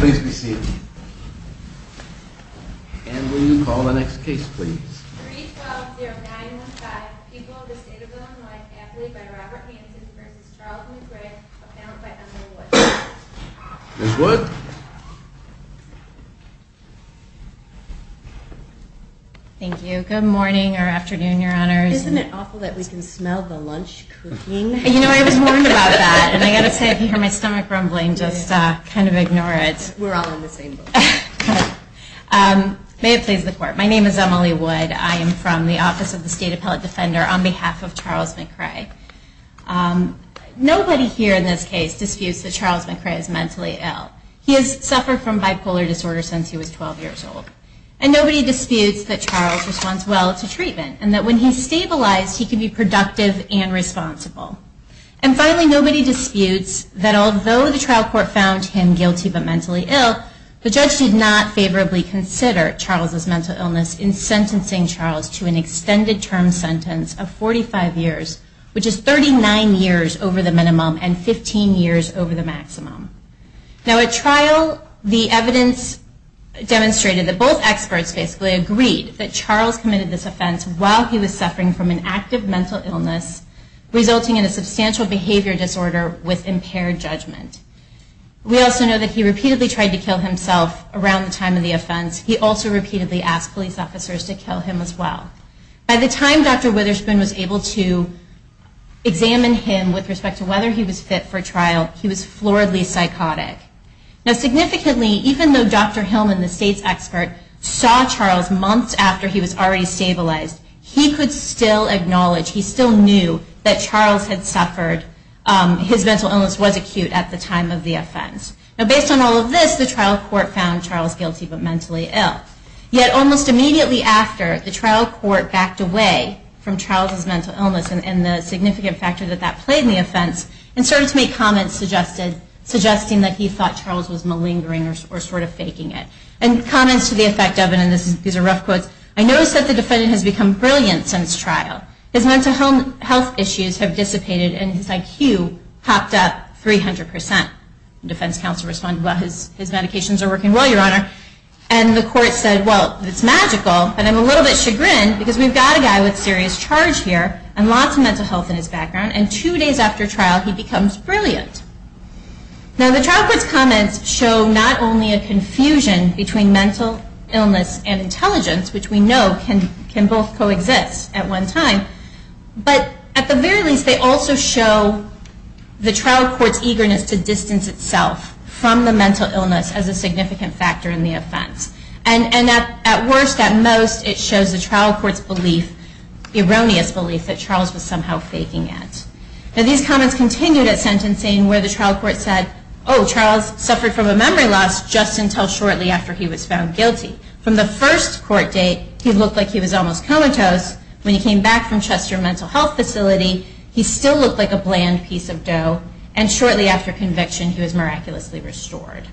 Please be seated. And will you call the next case, please? 3-12-0915, People of the State of Illinois, Affiliate by Robert Hanson v. Charles McRae, Appellant by Emily Wood. Ms. Wood? Thank you. Good morning or afternoon, Your Honors. Isn't it awful that we can smell the lunch cooking? You know, I was warned about that, and I've got to say, if you hear my stomach rumbling, just kind of ignore it. We're all on the same boat. May it please the Court, my name is Emily Wood. I am from the Office of the State Appellate Defender on behalf of Charles McRae. Nobody here in this case disputes that Charles McRae is mentally ill. He has suffered from bipolar disorder since he was 12 years old. And nobody disputes that Charles responds well to treatment, and that when he's stabilized, he can be productive and responsible. And finally, nobody disputes that although the trial court found him guilty but mentally ill, the judge did not favorably consider Charles' mental illness in sentencing Charles to an extended term sentence of 45 years, which is 39 years over the minimum and 15 years over the maximum. Now at trial, the evidence demonstrated that both experts basically agreed that Charles committed this offense while he was suffering from an active mental illness resulting in a substantial behavior disorder with impaired judgment. We also know that he repeatedly tried to kill himself around the time of the offense. He also repeatedly asked police officers to kill him as well. By the time Dr. Witherspoon was able to examine him with respect to whether he was fit for trial, he was floridly psychotic. Now significantly, even though Dr. Hillman, the state's expert, saw Charles months after he was already stabilized, he could still acknowledge, he still knew, that Charles had suffered, his mental illness was acute at the time of the offense. Now based on all of this, the trial court found Charles guilty but mentally ill, yet almost immediately after, the trial court backed away from Charles' mental illness and the significant factor that that played in the offense and started to make comments suggesting that he thought Charles was malingering or sort of faking it. And comments to the effect of, and these are rough quotes, I notice that the defendant has become brilliant since trial. His mental health issues have dissipated and his IQ popped up 300%. The defense counsel responded, well his medications are working well, your honor. And the court said, well, it's magical, and I'm a little bit chagrined because we've got a guy with serious charge here and lots of mental health in his background, and two days after trial he becomes brilliant. Now the trial court's comments show not only a confusion between mental illness and intelligence, which we know can both coexist at one time, but at the very least they also show the trial court's eagerness to distance itself from the mental illness as a significant factor in the offense. And at worst, at most, it shows the trial court's belief, erroneous belief, that Charles was somehow faking it. Now these comments continued at sentencing where the trial court said, oh, Charles suffered from a memory loss just until shortly after he was found guilty. From the first court date he looked like he was almost comatose. When he came back from Chester Mental Health Facility he still looked like a bland piece of dough, and shortly after conviction he was miraculously restored.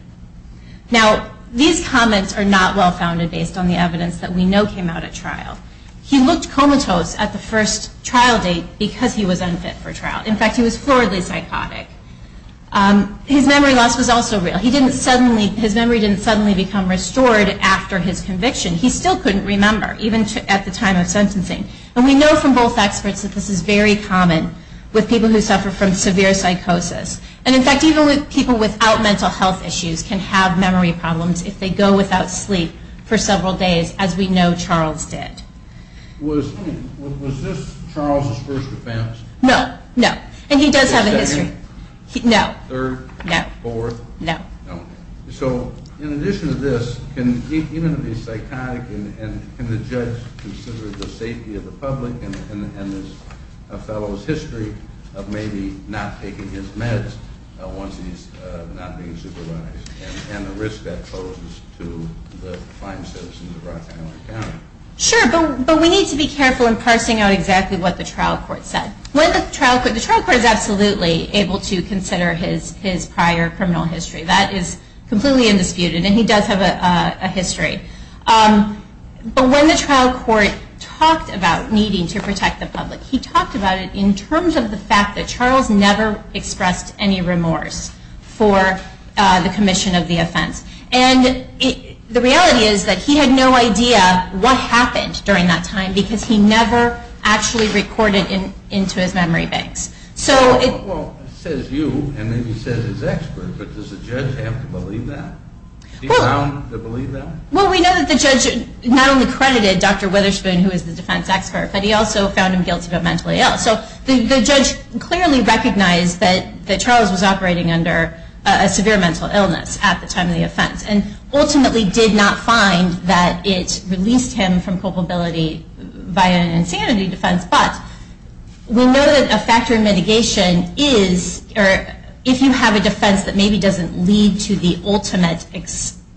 Now these comments are not well-founded based on the evidence that we know came out at trial. He looked comatose at the first trial date because he was unfit for trial. In fact, he was floridly psychotic. His memory loss was also real. His memory didn't suddenly become restored after his conviction. He still couldn't remember, even at the time of sentencing. And we know from both experts that this is very common with people who suffer from severe psychosis. And in fact, even people without mental health issues can have memory problems if they go without sleep for several days, as we know Charles did. Was this Charles' first offense? No, no. And he does have a history. Second? No. Third? No. Fourth? No. No. So in addition to this, can even the psychotic and the judge consider the safety of the public and his fellow's history of maybe not taking his meds once he's not being supervised and the risk that poses to the fine citizens of Rock Island County? Sure, but we need to be careful in parsing out exactly what the trial court said. The trial court is absolutely able to consider his prior criminal history. That is completely undisputed. And he does have a history. But when the trial court talked about needing to protect the public, he talked about it in terms of the fact that Charles never expressed any remorse for the commission of the offense. And the reality is that he had no idea what happened during that time because he never actually recorded into his memory banks. Well, it says you, and then he says his expert, but does the judge have to believe that? He found to believe that? Well, we know that the judge not only credited Dr. Witherspoon, who is the defense expert, but he also found him guilty of a mental ill. So the judge clearly recognized that Charles was operating under a severe mental illness at the time of the offense and ultimately did not find that it released him from culpability by an insanity defense. But we know that a factor in mitigation is if you have a defense that maybe doesn't lead to the ultimate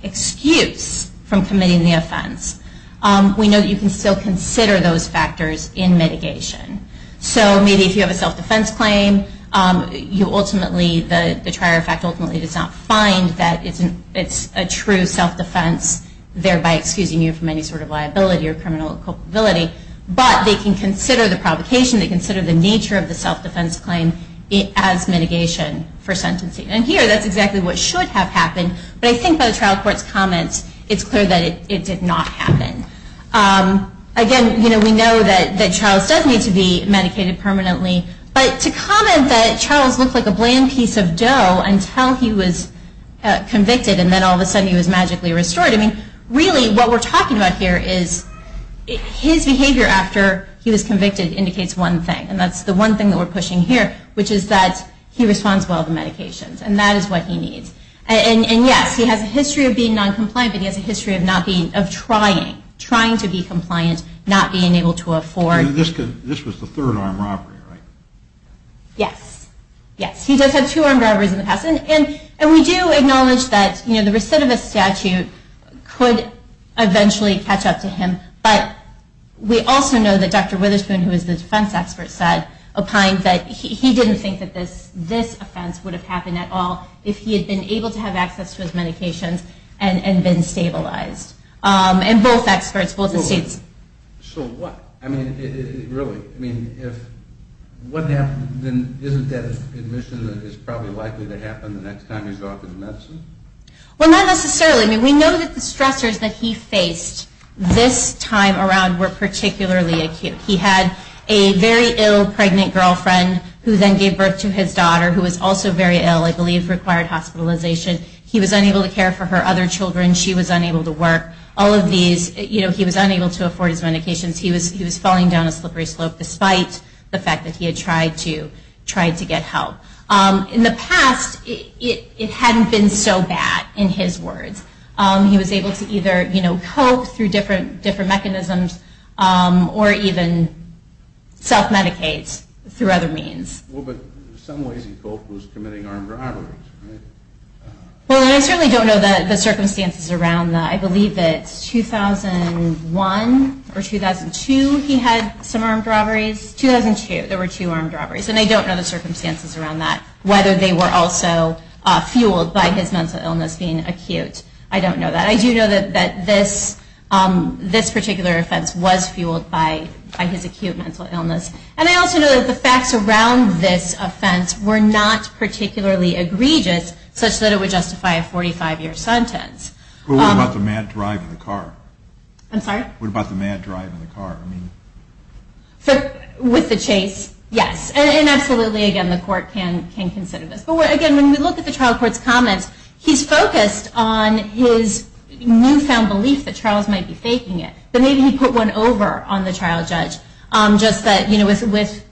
excuse from committing the offense, we know that you can still consider those factors in mitigation. So maybe if you have a self-defense claim, you ultimately, the trier of fact ultimately does not find that it's a true self-defense, thereby excusing you from any sort of liability or criminal culpability, but they can consider the provocation, they can consider the nature of the self-defense claim as mitigation for sentencing. And here, that's exactly what should have happened, but I think by the trial court's comments, it's clear that it did not happen. Again, we know that Charles does need to be medicated permanently, but to comment until he was convicted and then all of a sudden he was magically restored, I mean, really, what we're talking about here is his behavior after he was convicted indicates one thing, and that's the one thing that we're pushing here, which is that he responds well to medications, and that is what he needs. And yes, he has a history of being noncompliant, but he has a history of not being, of trying, trying to be compliant, not being able to afford. This was the third armed robbery, right? Yes, yes. He does have two armed robberies in the past, and we do acknowledge that the recidivist statute could eventually catch up to him, but we also know that Dr. Witherspoon, who is the defense expert, said, opined that he didn't think that this offense would have happened at all if he had been able to have access to his medications and been stabilized. And both experts, both the states. So what? I mean, really, I mean, if what happened, then isn't that admission that it's probably likely to happen the next time he's off with medicine? Well, not necessarily. I mean, we know that the stressors that he faced this time around were particularly acute. He had a very ill pregnant girlfriend who then gave birth to his daughter, who was also very ill, I believe required hospitalization. He was unable to care for her other children. She was unable to work. All of these, you know, he was unable to afford his medications. He was falling down a slippery slope, despite the fact that he had tried to get help. In the past, it hadn't been so bad, in his words. He was able to either, you know, cope through different mechanisms or even self-medicate through other means. Well, but in some ways he coped with committing armed robberies, right? Well, I certainly don't know the circumstances around that. I believe that 2001 or 2002 he had some armed robberies. 2002, there were two armed robberies. And I don't know the circumstances around that, whether they were also fueled by his mental illness being acute. I don't know that. I do know that this particular offense was fueled by his acute mental illness. And I also know that the facts around this offense were not particularly egregious, such that it would justify a 45-year sentence. Well, what about the mad drive in the car? I'm sorry? What about the mad drive in the car? With the chase, yes. And absolutely, again, the court can consider this. But again, when we look at the trial court's comments, he's focused on his newfound belief that Charles might be faking it. But maybe he put one over on the trial judge, just that, you know, with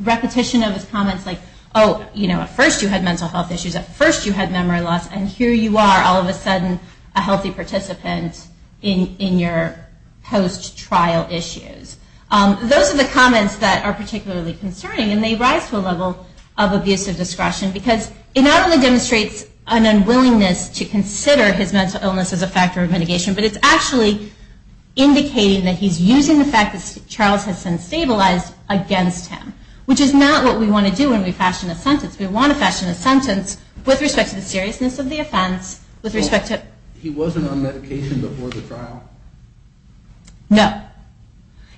repetition of his comments, like, oh, you know, at first you had mental health issues, at first you had memory loss, and here you are all of a sudden a healthy participant in your post-trial issues. Those are the comments that are particularly concerning, and they rise to a level of abusive discretion, because it not only demonstrates an unwillingness to consider his mental illness as a factor of mitigation, but it's actually indicating that he's using the fact that Charles has since stabilized against him, which is not what we want to do when we fashion a sentence. We want to fashion a sentence with respect to the seriousness of the offense, with respect to... He wasn't on medication before the trial? No.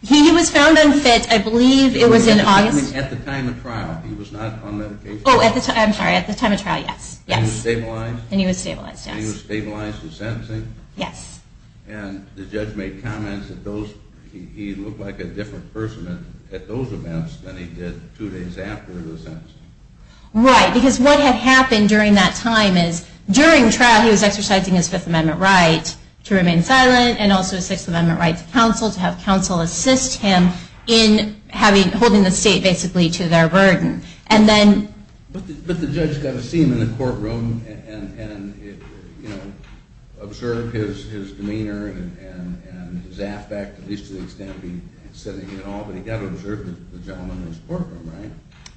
He was found unfit, I believe it was in August... He was found unfit at the time of trial. He was not on medication? Oh, I'm sorry, at the time of trial, yes. And he was stabilized? And he was stabilized, yes. And he was stabilized in sentencing? Yes. And the judge made comments that those... he looked like a different person at those events than he did two days after the sentence. Right, because what had happened during that time is, during trial, he was exercising his Fifth Amendment right to remain silent, and also his Sixth Amendment right to counsel, to have counsel assist him in holding the state basically to their burden. And then... But the judge got to see him in the courtroom and observe his demeanor and his aspect, at least to the extent of him sitting at all, but he got to observe the gentleman in his courtroom, right?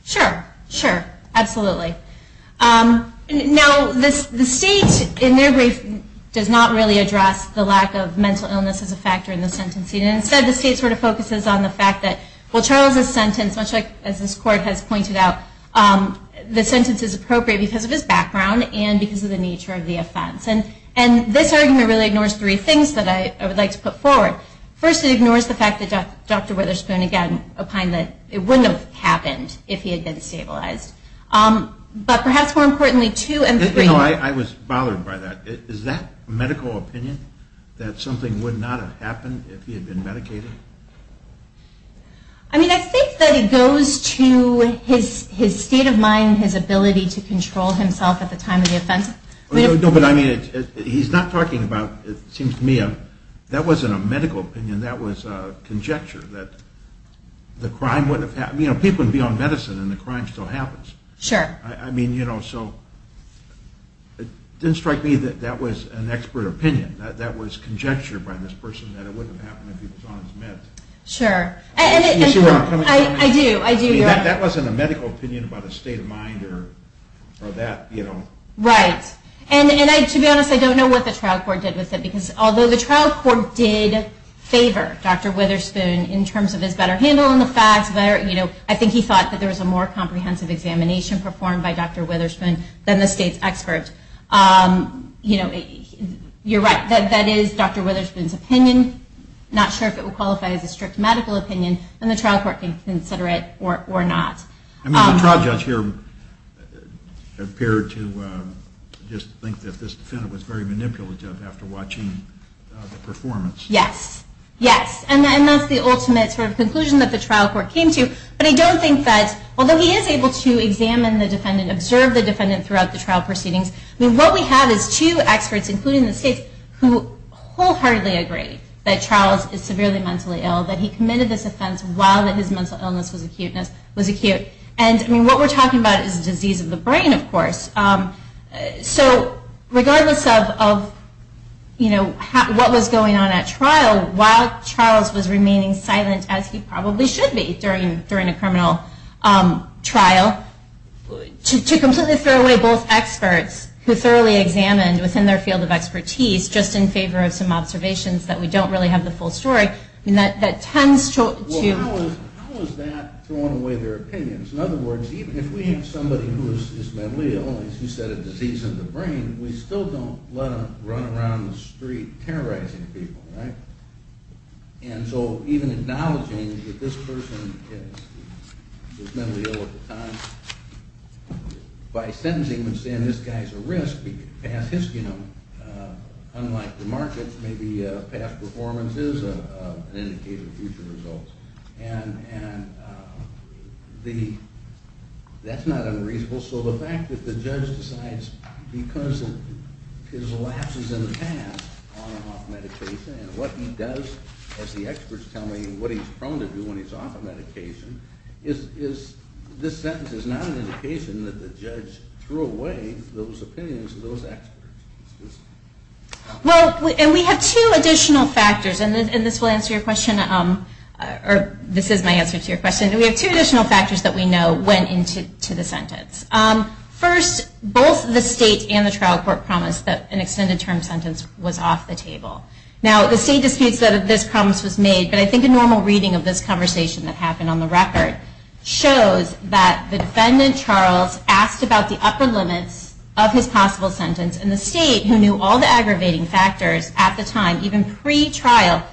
Sure. Sure. Absolutely. Now, the state, in their brief, does not really address the lack of mental illness as a factor in the sentencing. Instead, the state sort of focuses on the fact that, well, Charles's sentence, as this court has pointed out, the sentence is appropriate because of his background and because of the nature of the offense. And this argument really ignores three things that I would like to put forward. First, it ignores the fact that Dr. Witherspoon, again, opined that it wouldn't have happened if he had been stabilized. But perhaps more importantly, two and three... No, I was bothered by that. Is that medical opinion, that something would not have happened if he had been medicated? I mean, I think that it goes to his state of mind, his ability to control himself at the time of the offense. No, but I mean, he's not talking about, it seems to me, that wasn't a medical opinion, that was a conjecture that the crime wouldn't have happened. You know, people can be on medicine and the crime still happens. Sure. I mean, you know, so it didn't strike me that that was an expert opinion. That was conjecture by this person that it wouldn't have happened if he was on his meds. Sure. You see where I'm coming from? I do, I do. That wasn't a medical opinion about his state of mind or that, you know. Right. And to be honest, I don't know what the trial court did with it because although the trial court did favor Dr. Witherspoon in terms of his better handling of facts, I think he thought that there was a more comprehensive examination performed by Dr. Witherspoon than the state's expert. You know, you're right. That is Dr. Witherspoon's opinion. I'm not sure if it would qualify as a strict medical opinion and the trial court can consider it or not. I mean, the trial judge here appeared to just think that this defendant was very manipulative after watching the performance. Yes. Yes. And that's the ultimate sort of conclusion that the trial court came to. But I don't think that although he is able to examine the defendant, observe the defendant throughout the trial proceedings, what we have is two experts, including the states, who wholeheartedly agree that Charles is severely mentally ill, that he committed this offense while his mental illness was acute. And what we're talking about is disease of the brain, of course. So regardless of, you know, what was going on at trial, while Charles was remaining silent, as he probably should be, during a criminal trial, to completely throw away both experts who thoroughly examined within their field of expertise, just in favor of some observations that we don't really have the full story, I mean, that tends to... Well, how is that throwing away their opinions? In other words, even if we have somebody who is mentally ill, as you said, a disease of the brain, we still don't let them run around the street terrorizing people, right? And so even acknowledging that this person is mentally ill at the time, by sentencing them and saying this guy's a risk, we could pass his, you know, unlike the markets, maybe past performances, an indicator of future results. And that's not unreasonable. So the fact that the judge decides, because of his lapses in the past on and off medication, and what he does, as the experts tell me, what he's prone to do when he's off of medication, is this sentence is not an indication that the judge threw away those opinions of those experts. Well, and we have two additional factors, and this will answer your question, or this is my answer to your question. We have two additional factors that we know went into the sentence. First, both the state and the trial court promised that an extended term sentence was off the table. Now, the state disputes that this promise was made, but I think a normal reading of this conversation that happened on the record, shows that the defendant, Charles, asked about the upper limits of his possible sentence, and the state, who knew all the aggravating factors at the time, even pre-trial,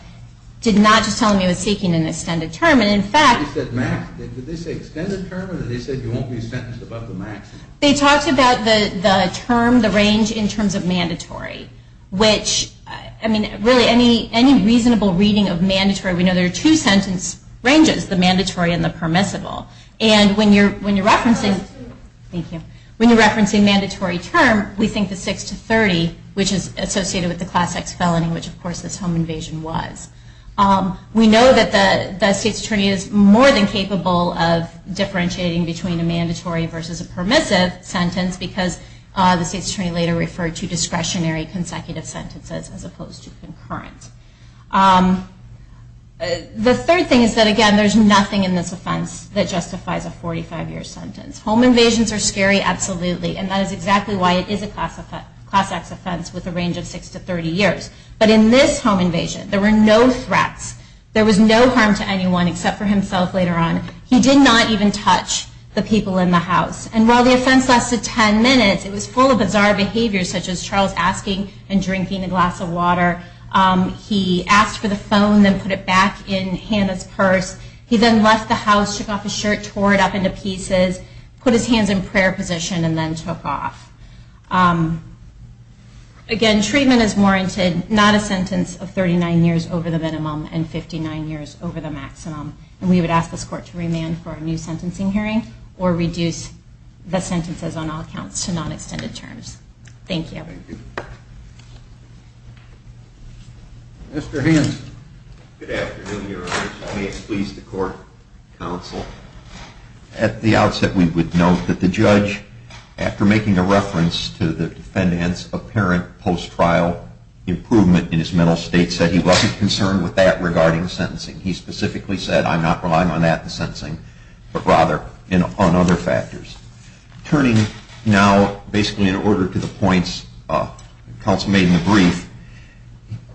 did not just tell him he was seeking an extended term. And in fact... He said max. Did they say extended term, or did they say you won't be sentenced above the max? They talked about the term, the range, in terms of mandatory. Which, I mean, really any reasonable reading of mandatory, we know there are two sentence ranges, the mandatory and the permissible. And when you're referencing... Thank you. When you're referencing mandatory term, we think the 6 to 30, which is associated with the Class X felony, which, of course, this home invasion was. We know that the state's attorney is more than capable of differentiating between a mandatory versus a permissive sentence, because the state's attorney later referred to discretionary consecutive sentences as opposed to concurrent. The third thing is that, again, there's nothing in this offense that justifies a 45-year sentence. Home invasions are scary, absolutely, and that is exactly why it is a Class X offense with a range of 6 to 30 years. But in this home invasion, there were no threats. There was no harm to anyone except for himself later on. He did not even touch the people in the house. And while the offense lasted 10 minutes, it was full of bizarre behaviors, such as Charles asking and drinking a glass of water. He asked for the phone, then put it back in Hannah's purse. He then left the house, took off his shirt, tore it up into pieces, put his hands in prayer position, and then took off. Again, treatment is warranted, not a sentence of 39 years over the minimum and 59 years over the maximum. And we would ask this court to remand for a new sentencing hearing or reduce the sentences on all counts to non-extended terms. Thank you. Mr. Hanson. Good afternoon, Your Honor. May it please the court, counsel. At the outset, we would note that the judge, after making a reference to the defendant's apparent post-trial improvement in his mental state, said he wasn't concerned with that regarding sentencing. He specifically said, I'm not relying on that in sentencing, but rather on other factors. Turning now basically in order to the points counsel made in the brief,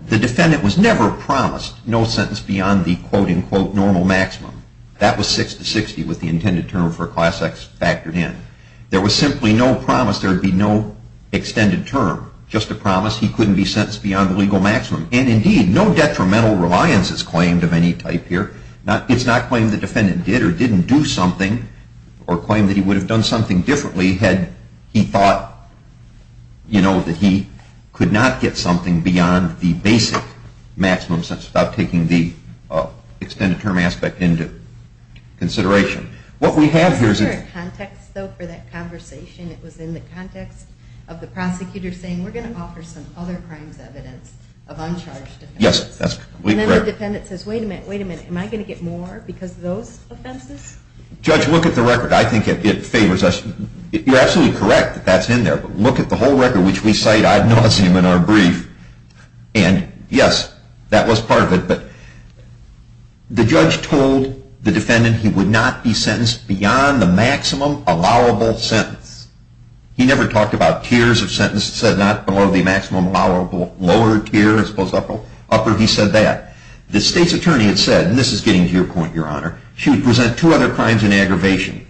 the defendant was never promised no sentence beyond the quote-unquote normal maximum. That was 6 to 60 with the intended term for Class X factored in. There was simply no promise. There would be no extended term, just a promise he couldn't be sentenced beyond the legal maximum. And indeed, no detrimental reliance is claimed of any type here. It's not claimed the defendant did or didn't do something or claimed that he would have done something differently had he thought that he could not get something beyond the basic maximum sentence without taking the extended term aspect into consideration. Is there a context, though, for that conversation? It was in the context of the prosecutor saying, we're going to offer some other crimes evidence of uncharged offenses. Yes, that's completely correct. And then the defendant says, wait a minute, wait a minute. Am I going to get more because of those offenses? Judge, look at the record. I think it favors us. You're absolutely correct that that's in there. But look at the whole record, which we cite, and God knows him in our brief. And yes, that was part of it. But the judge told the defendant he would not be sentenced beyond the maximum allowable sentence. He never talked about tiers of sentence. He said not below the maximum lower tier, as opposed to upper. He said that. The state's attorney had said, and this is getting to your point, Your Honor, she would present two other crimes in aggravation.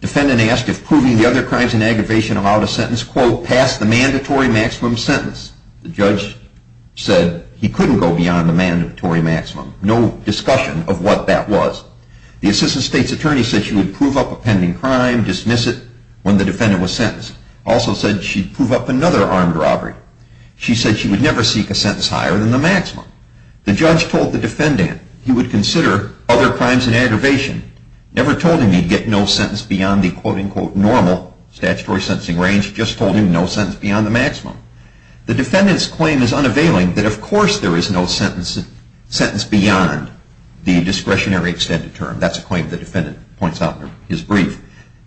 Defendant asked if proving the other crimes in aggravation allowed a sentence, quote, past the mandatory maximum sentence. The judge said he couldn't go beyond the mandatory maximum. No discussion of what that was. The assistant state's attorney said she would prove up a pending crime, dismiss it when the defendant was sentenced. Also said she'd prove up another armed robbery. She said she would never seek a sentence higher than the maximum. The judge told the defendant he would consider other crimes in aggravation, never told him he'd get no sentence beyond the, quote, unquote, normal statutory sentencing range. Just told him no sentence beyond the maximum. The defendant's claim is unavailing that, of course, there is no sentence beyond the discretionary extended term. That's a claim the defendant points out in his brief.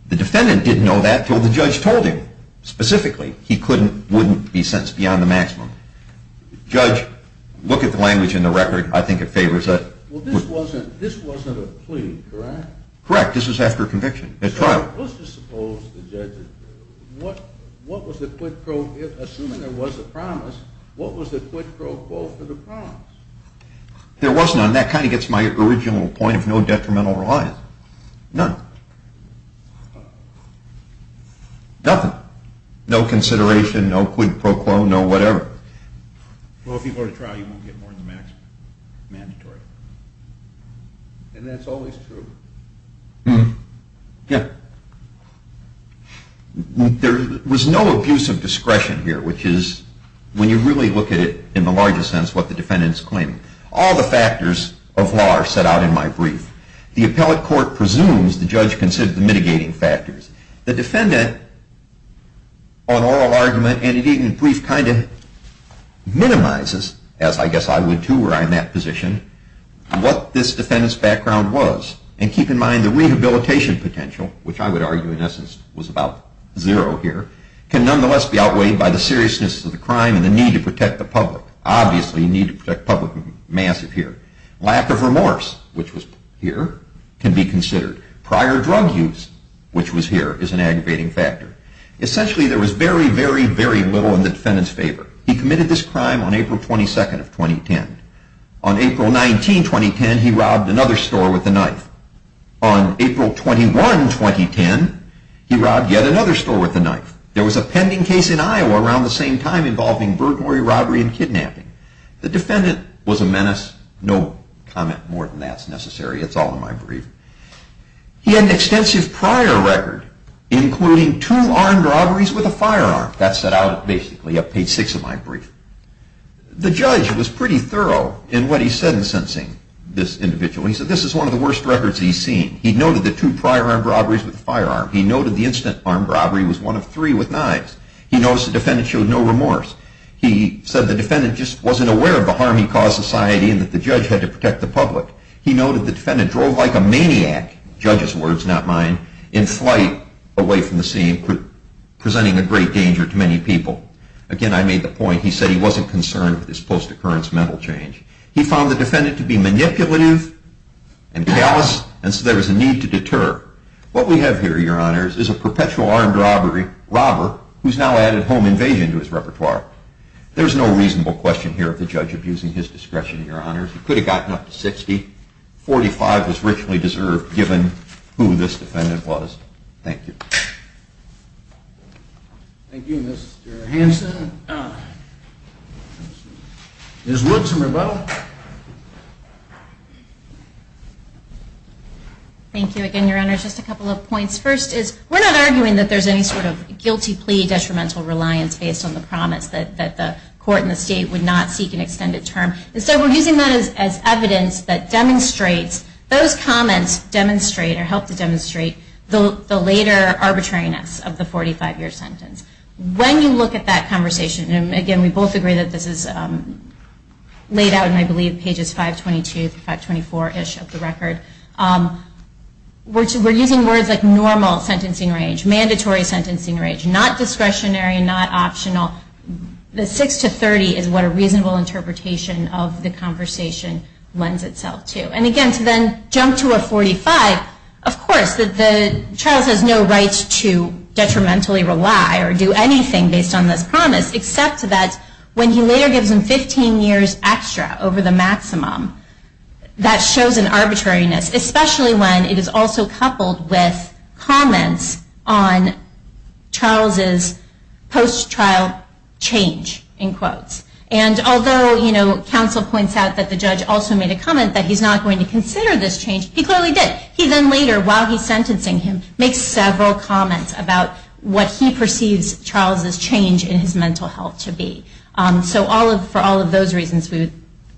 The defendant didn't know that until the judge told him. Specifically, he wouldn't be sentenced beyond the maximum. Judge, look at the language in the record. I think it favors it. Well, this wasn't a plea, correct? Correct. This was after conviction, at trial. So let's just suppose the judge, assuming there was a promise, what was the quid pro quo for the promise? There was none. That kind of gets my original point of no detrimental reliance. None. Nothing. No consideration, no quid pro quo, no whatever. Well, if you go to trial, you won't get more than the maximum. Mandatory. And that's always true? Yeah. There was no abuse of discretion here, which is, when you really look at it in the largest sense, what the defendant's claiming. All the factors of law are set out in my brief. The appellate court presumes the judge considered the mitigating factors. The defendant, on oral argument and indeed in brief, kind of minimizes, as I guess I would, too, where I'm in that position, what this defendant's background was. And keep in mind the rehabilitation potential, which I would argue in essence was about zero here, can nonetheless be outweighed by the seriousness of the crime and the need to protect the public. Obviously, the need to protect the public is massive here. Lack of remorse, which was here, can be considered. Prior drug use, which was here, is an aggravating factor. Essentially, there was very, very, very little in the defendant's favor. He committed this crime on April 22nd of 2010. On April 19, 2010, he robbed another store with a knife. On April 21, 2010, he robbed yet another store with a knife. There was a pending case in Iowa around the same time involving burglary, robbery, and kidnapping. The defendant was a menace. No comment more than that's necessary. It's all in my brief. He had an extensive prior record, including two armed robberies with a firearm. That's set out basically up page six of my brief. The judge was pretty thorough in what he said in sentencing this individual. He said this is one of the worst records he's seen. He noted the two prior armed robberies with a firearm. He noted the instant armed robbery was one of three with knives. He noticed the defendant showed no remorse. He said the defendant just wasn't aware of the harm he caused society and that the judge had to protect the public. He noted the defendant drove like a maniac, judge's words, not mine, in flight away from the scene, presenting a great danger to many people. Again, I made the point. He said he wasn't concerned with his post-occurrence mental change. He found the defendant to be manipulative and callous, and so there was a need to deter. What we have here, Your Honors, is a perpetual armed robber who's now added home invasion to his repertoire. There's no reasonable question here of the judge abusing his discretion, Your Honors. He could have gotten up to 60. 45 was richly deserved given who this defendant was. Thank you. Thank you, Mr. Hanson. Ms. Wood, some rebuttal. Thank you again, Your Honors. Just a couple of points. First is we're not arguing that there's any sort of guilty plea detrimental reliance based on the promise that the court and the state would not seek an extended term. And so we're using that as evidence that demonstrates those comments demonstrate or help to demonstrate the later arbitrariness of the 45-year sentence. When you look at that conversation, and, again, we both agree that this is laid out in, I believe, pages 522 through 524-ish of the record, we're using words like normal sentencing range, mandatory sentencing range, not discretionary, not optional. The 6 to 30 is what a reasonable interpretation of the conversation lends itself to. And, again, to then jump to a 45, of course, Charles has no rights to detrimentally rely or do anything based on this promise except that when he later gives him 15 years extra over the maximum, that shows an arbitrariness, especially when it is also coupled with comments on Charles's post-trial change, in quotes. And although, you know, counsel points out that the judge also made a comment that he's not going to consider this change, he clearly did. He then later, while he's sentencing him, makes several comments about what he perceives Charles's change in his mental health to be. So for all of those reasons, we would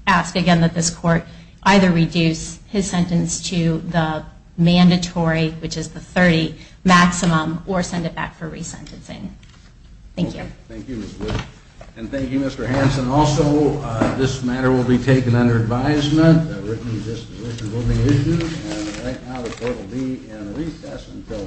ask, again, that this court either reduce his sentence to the mandatory, which is the 30 maximum, or send it back for resentencing. Thank you. Thank you, Ms. Wood. And thank you, Mr. Hanson. And also, this matter will be taken under advisement, that written disposition will be issued, and right now the court will be in recess until 1 p.m. The court is now in recess.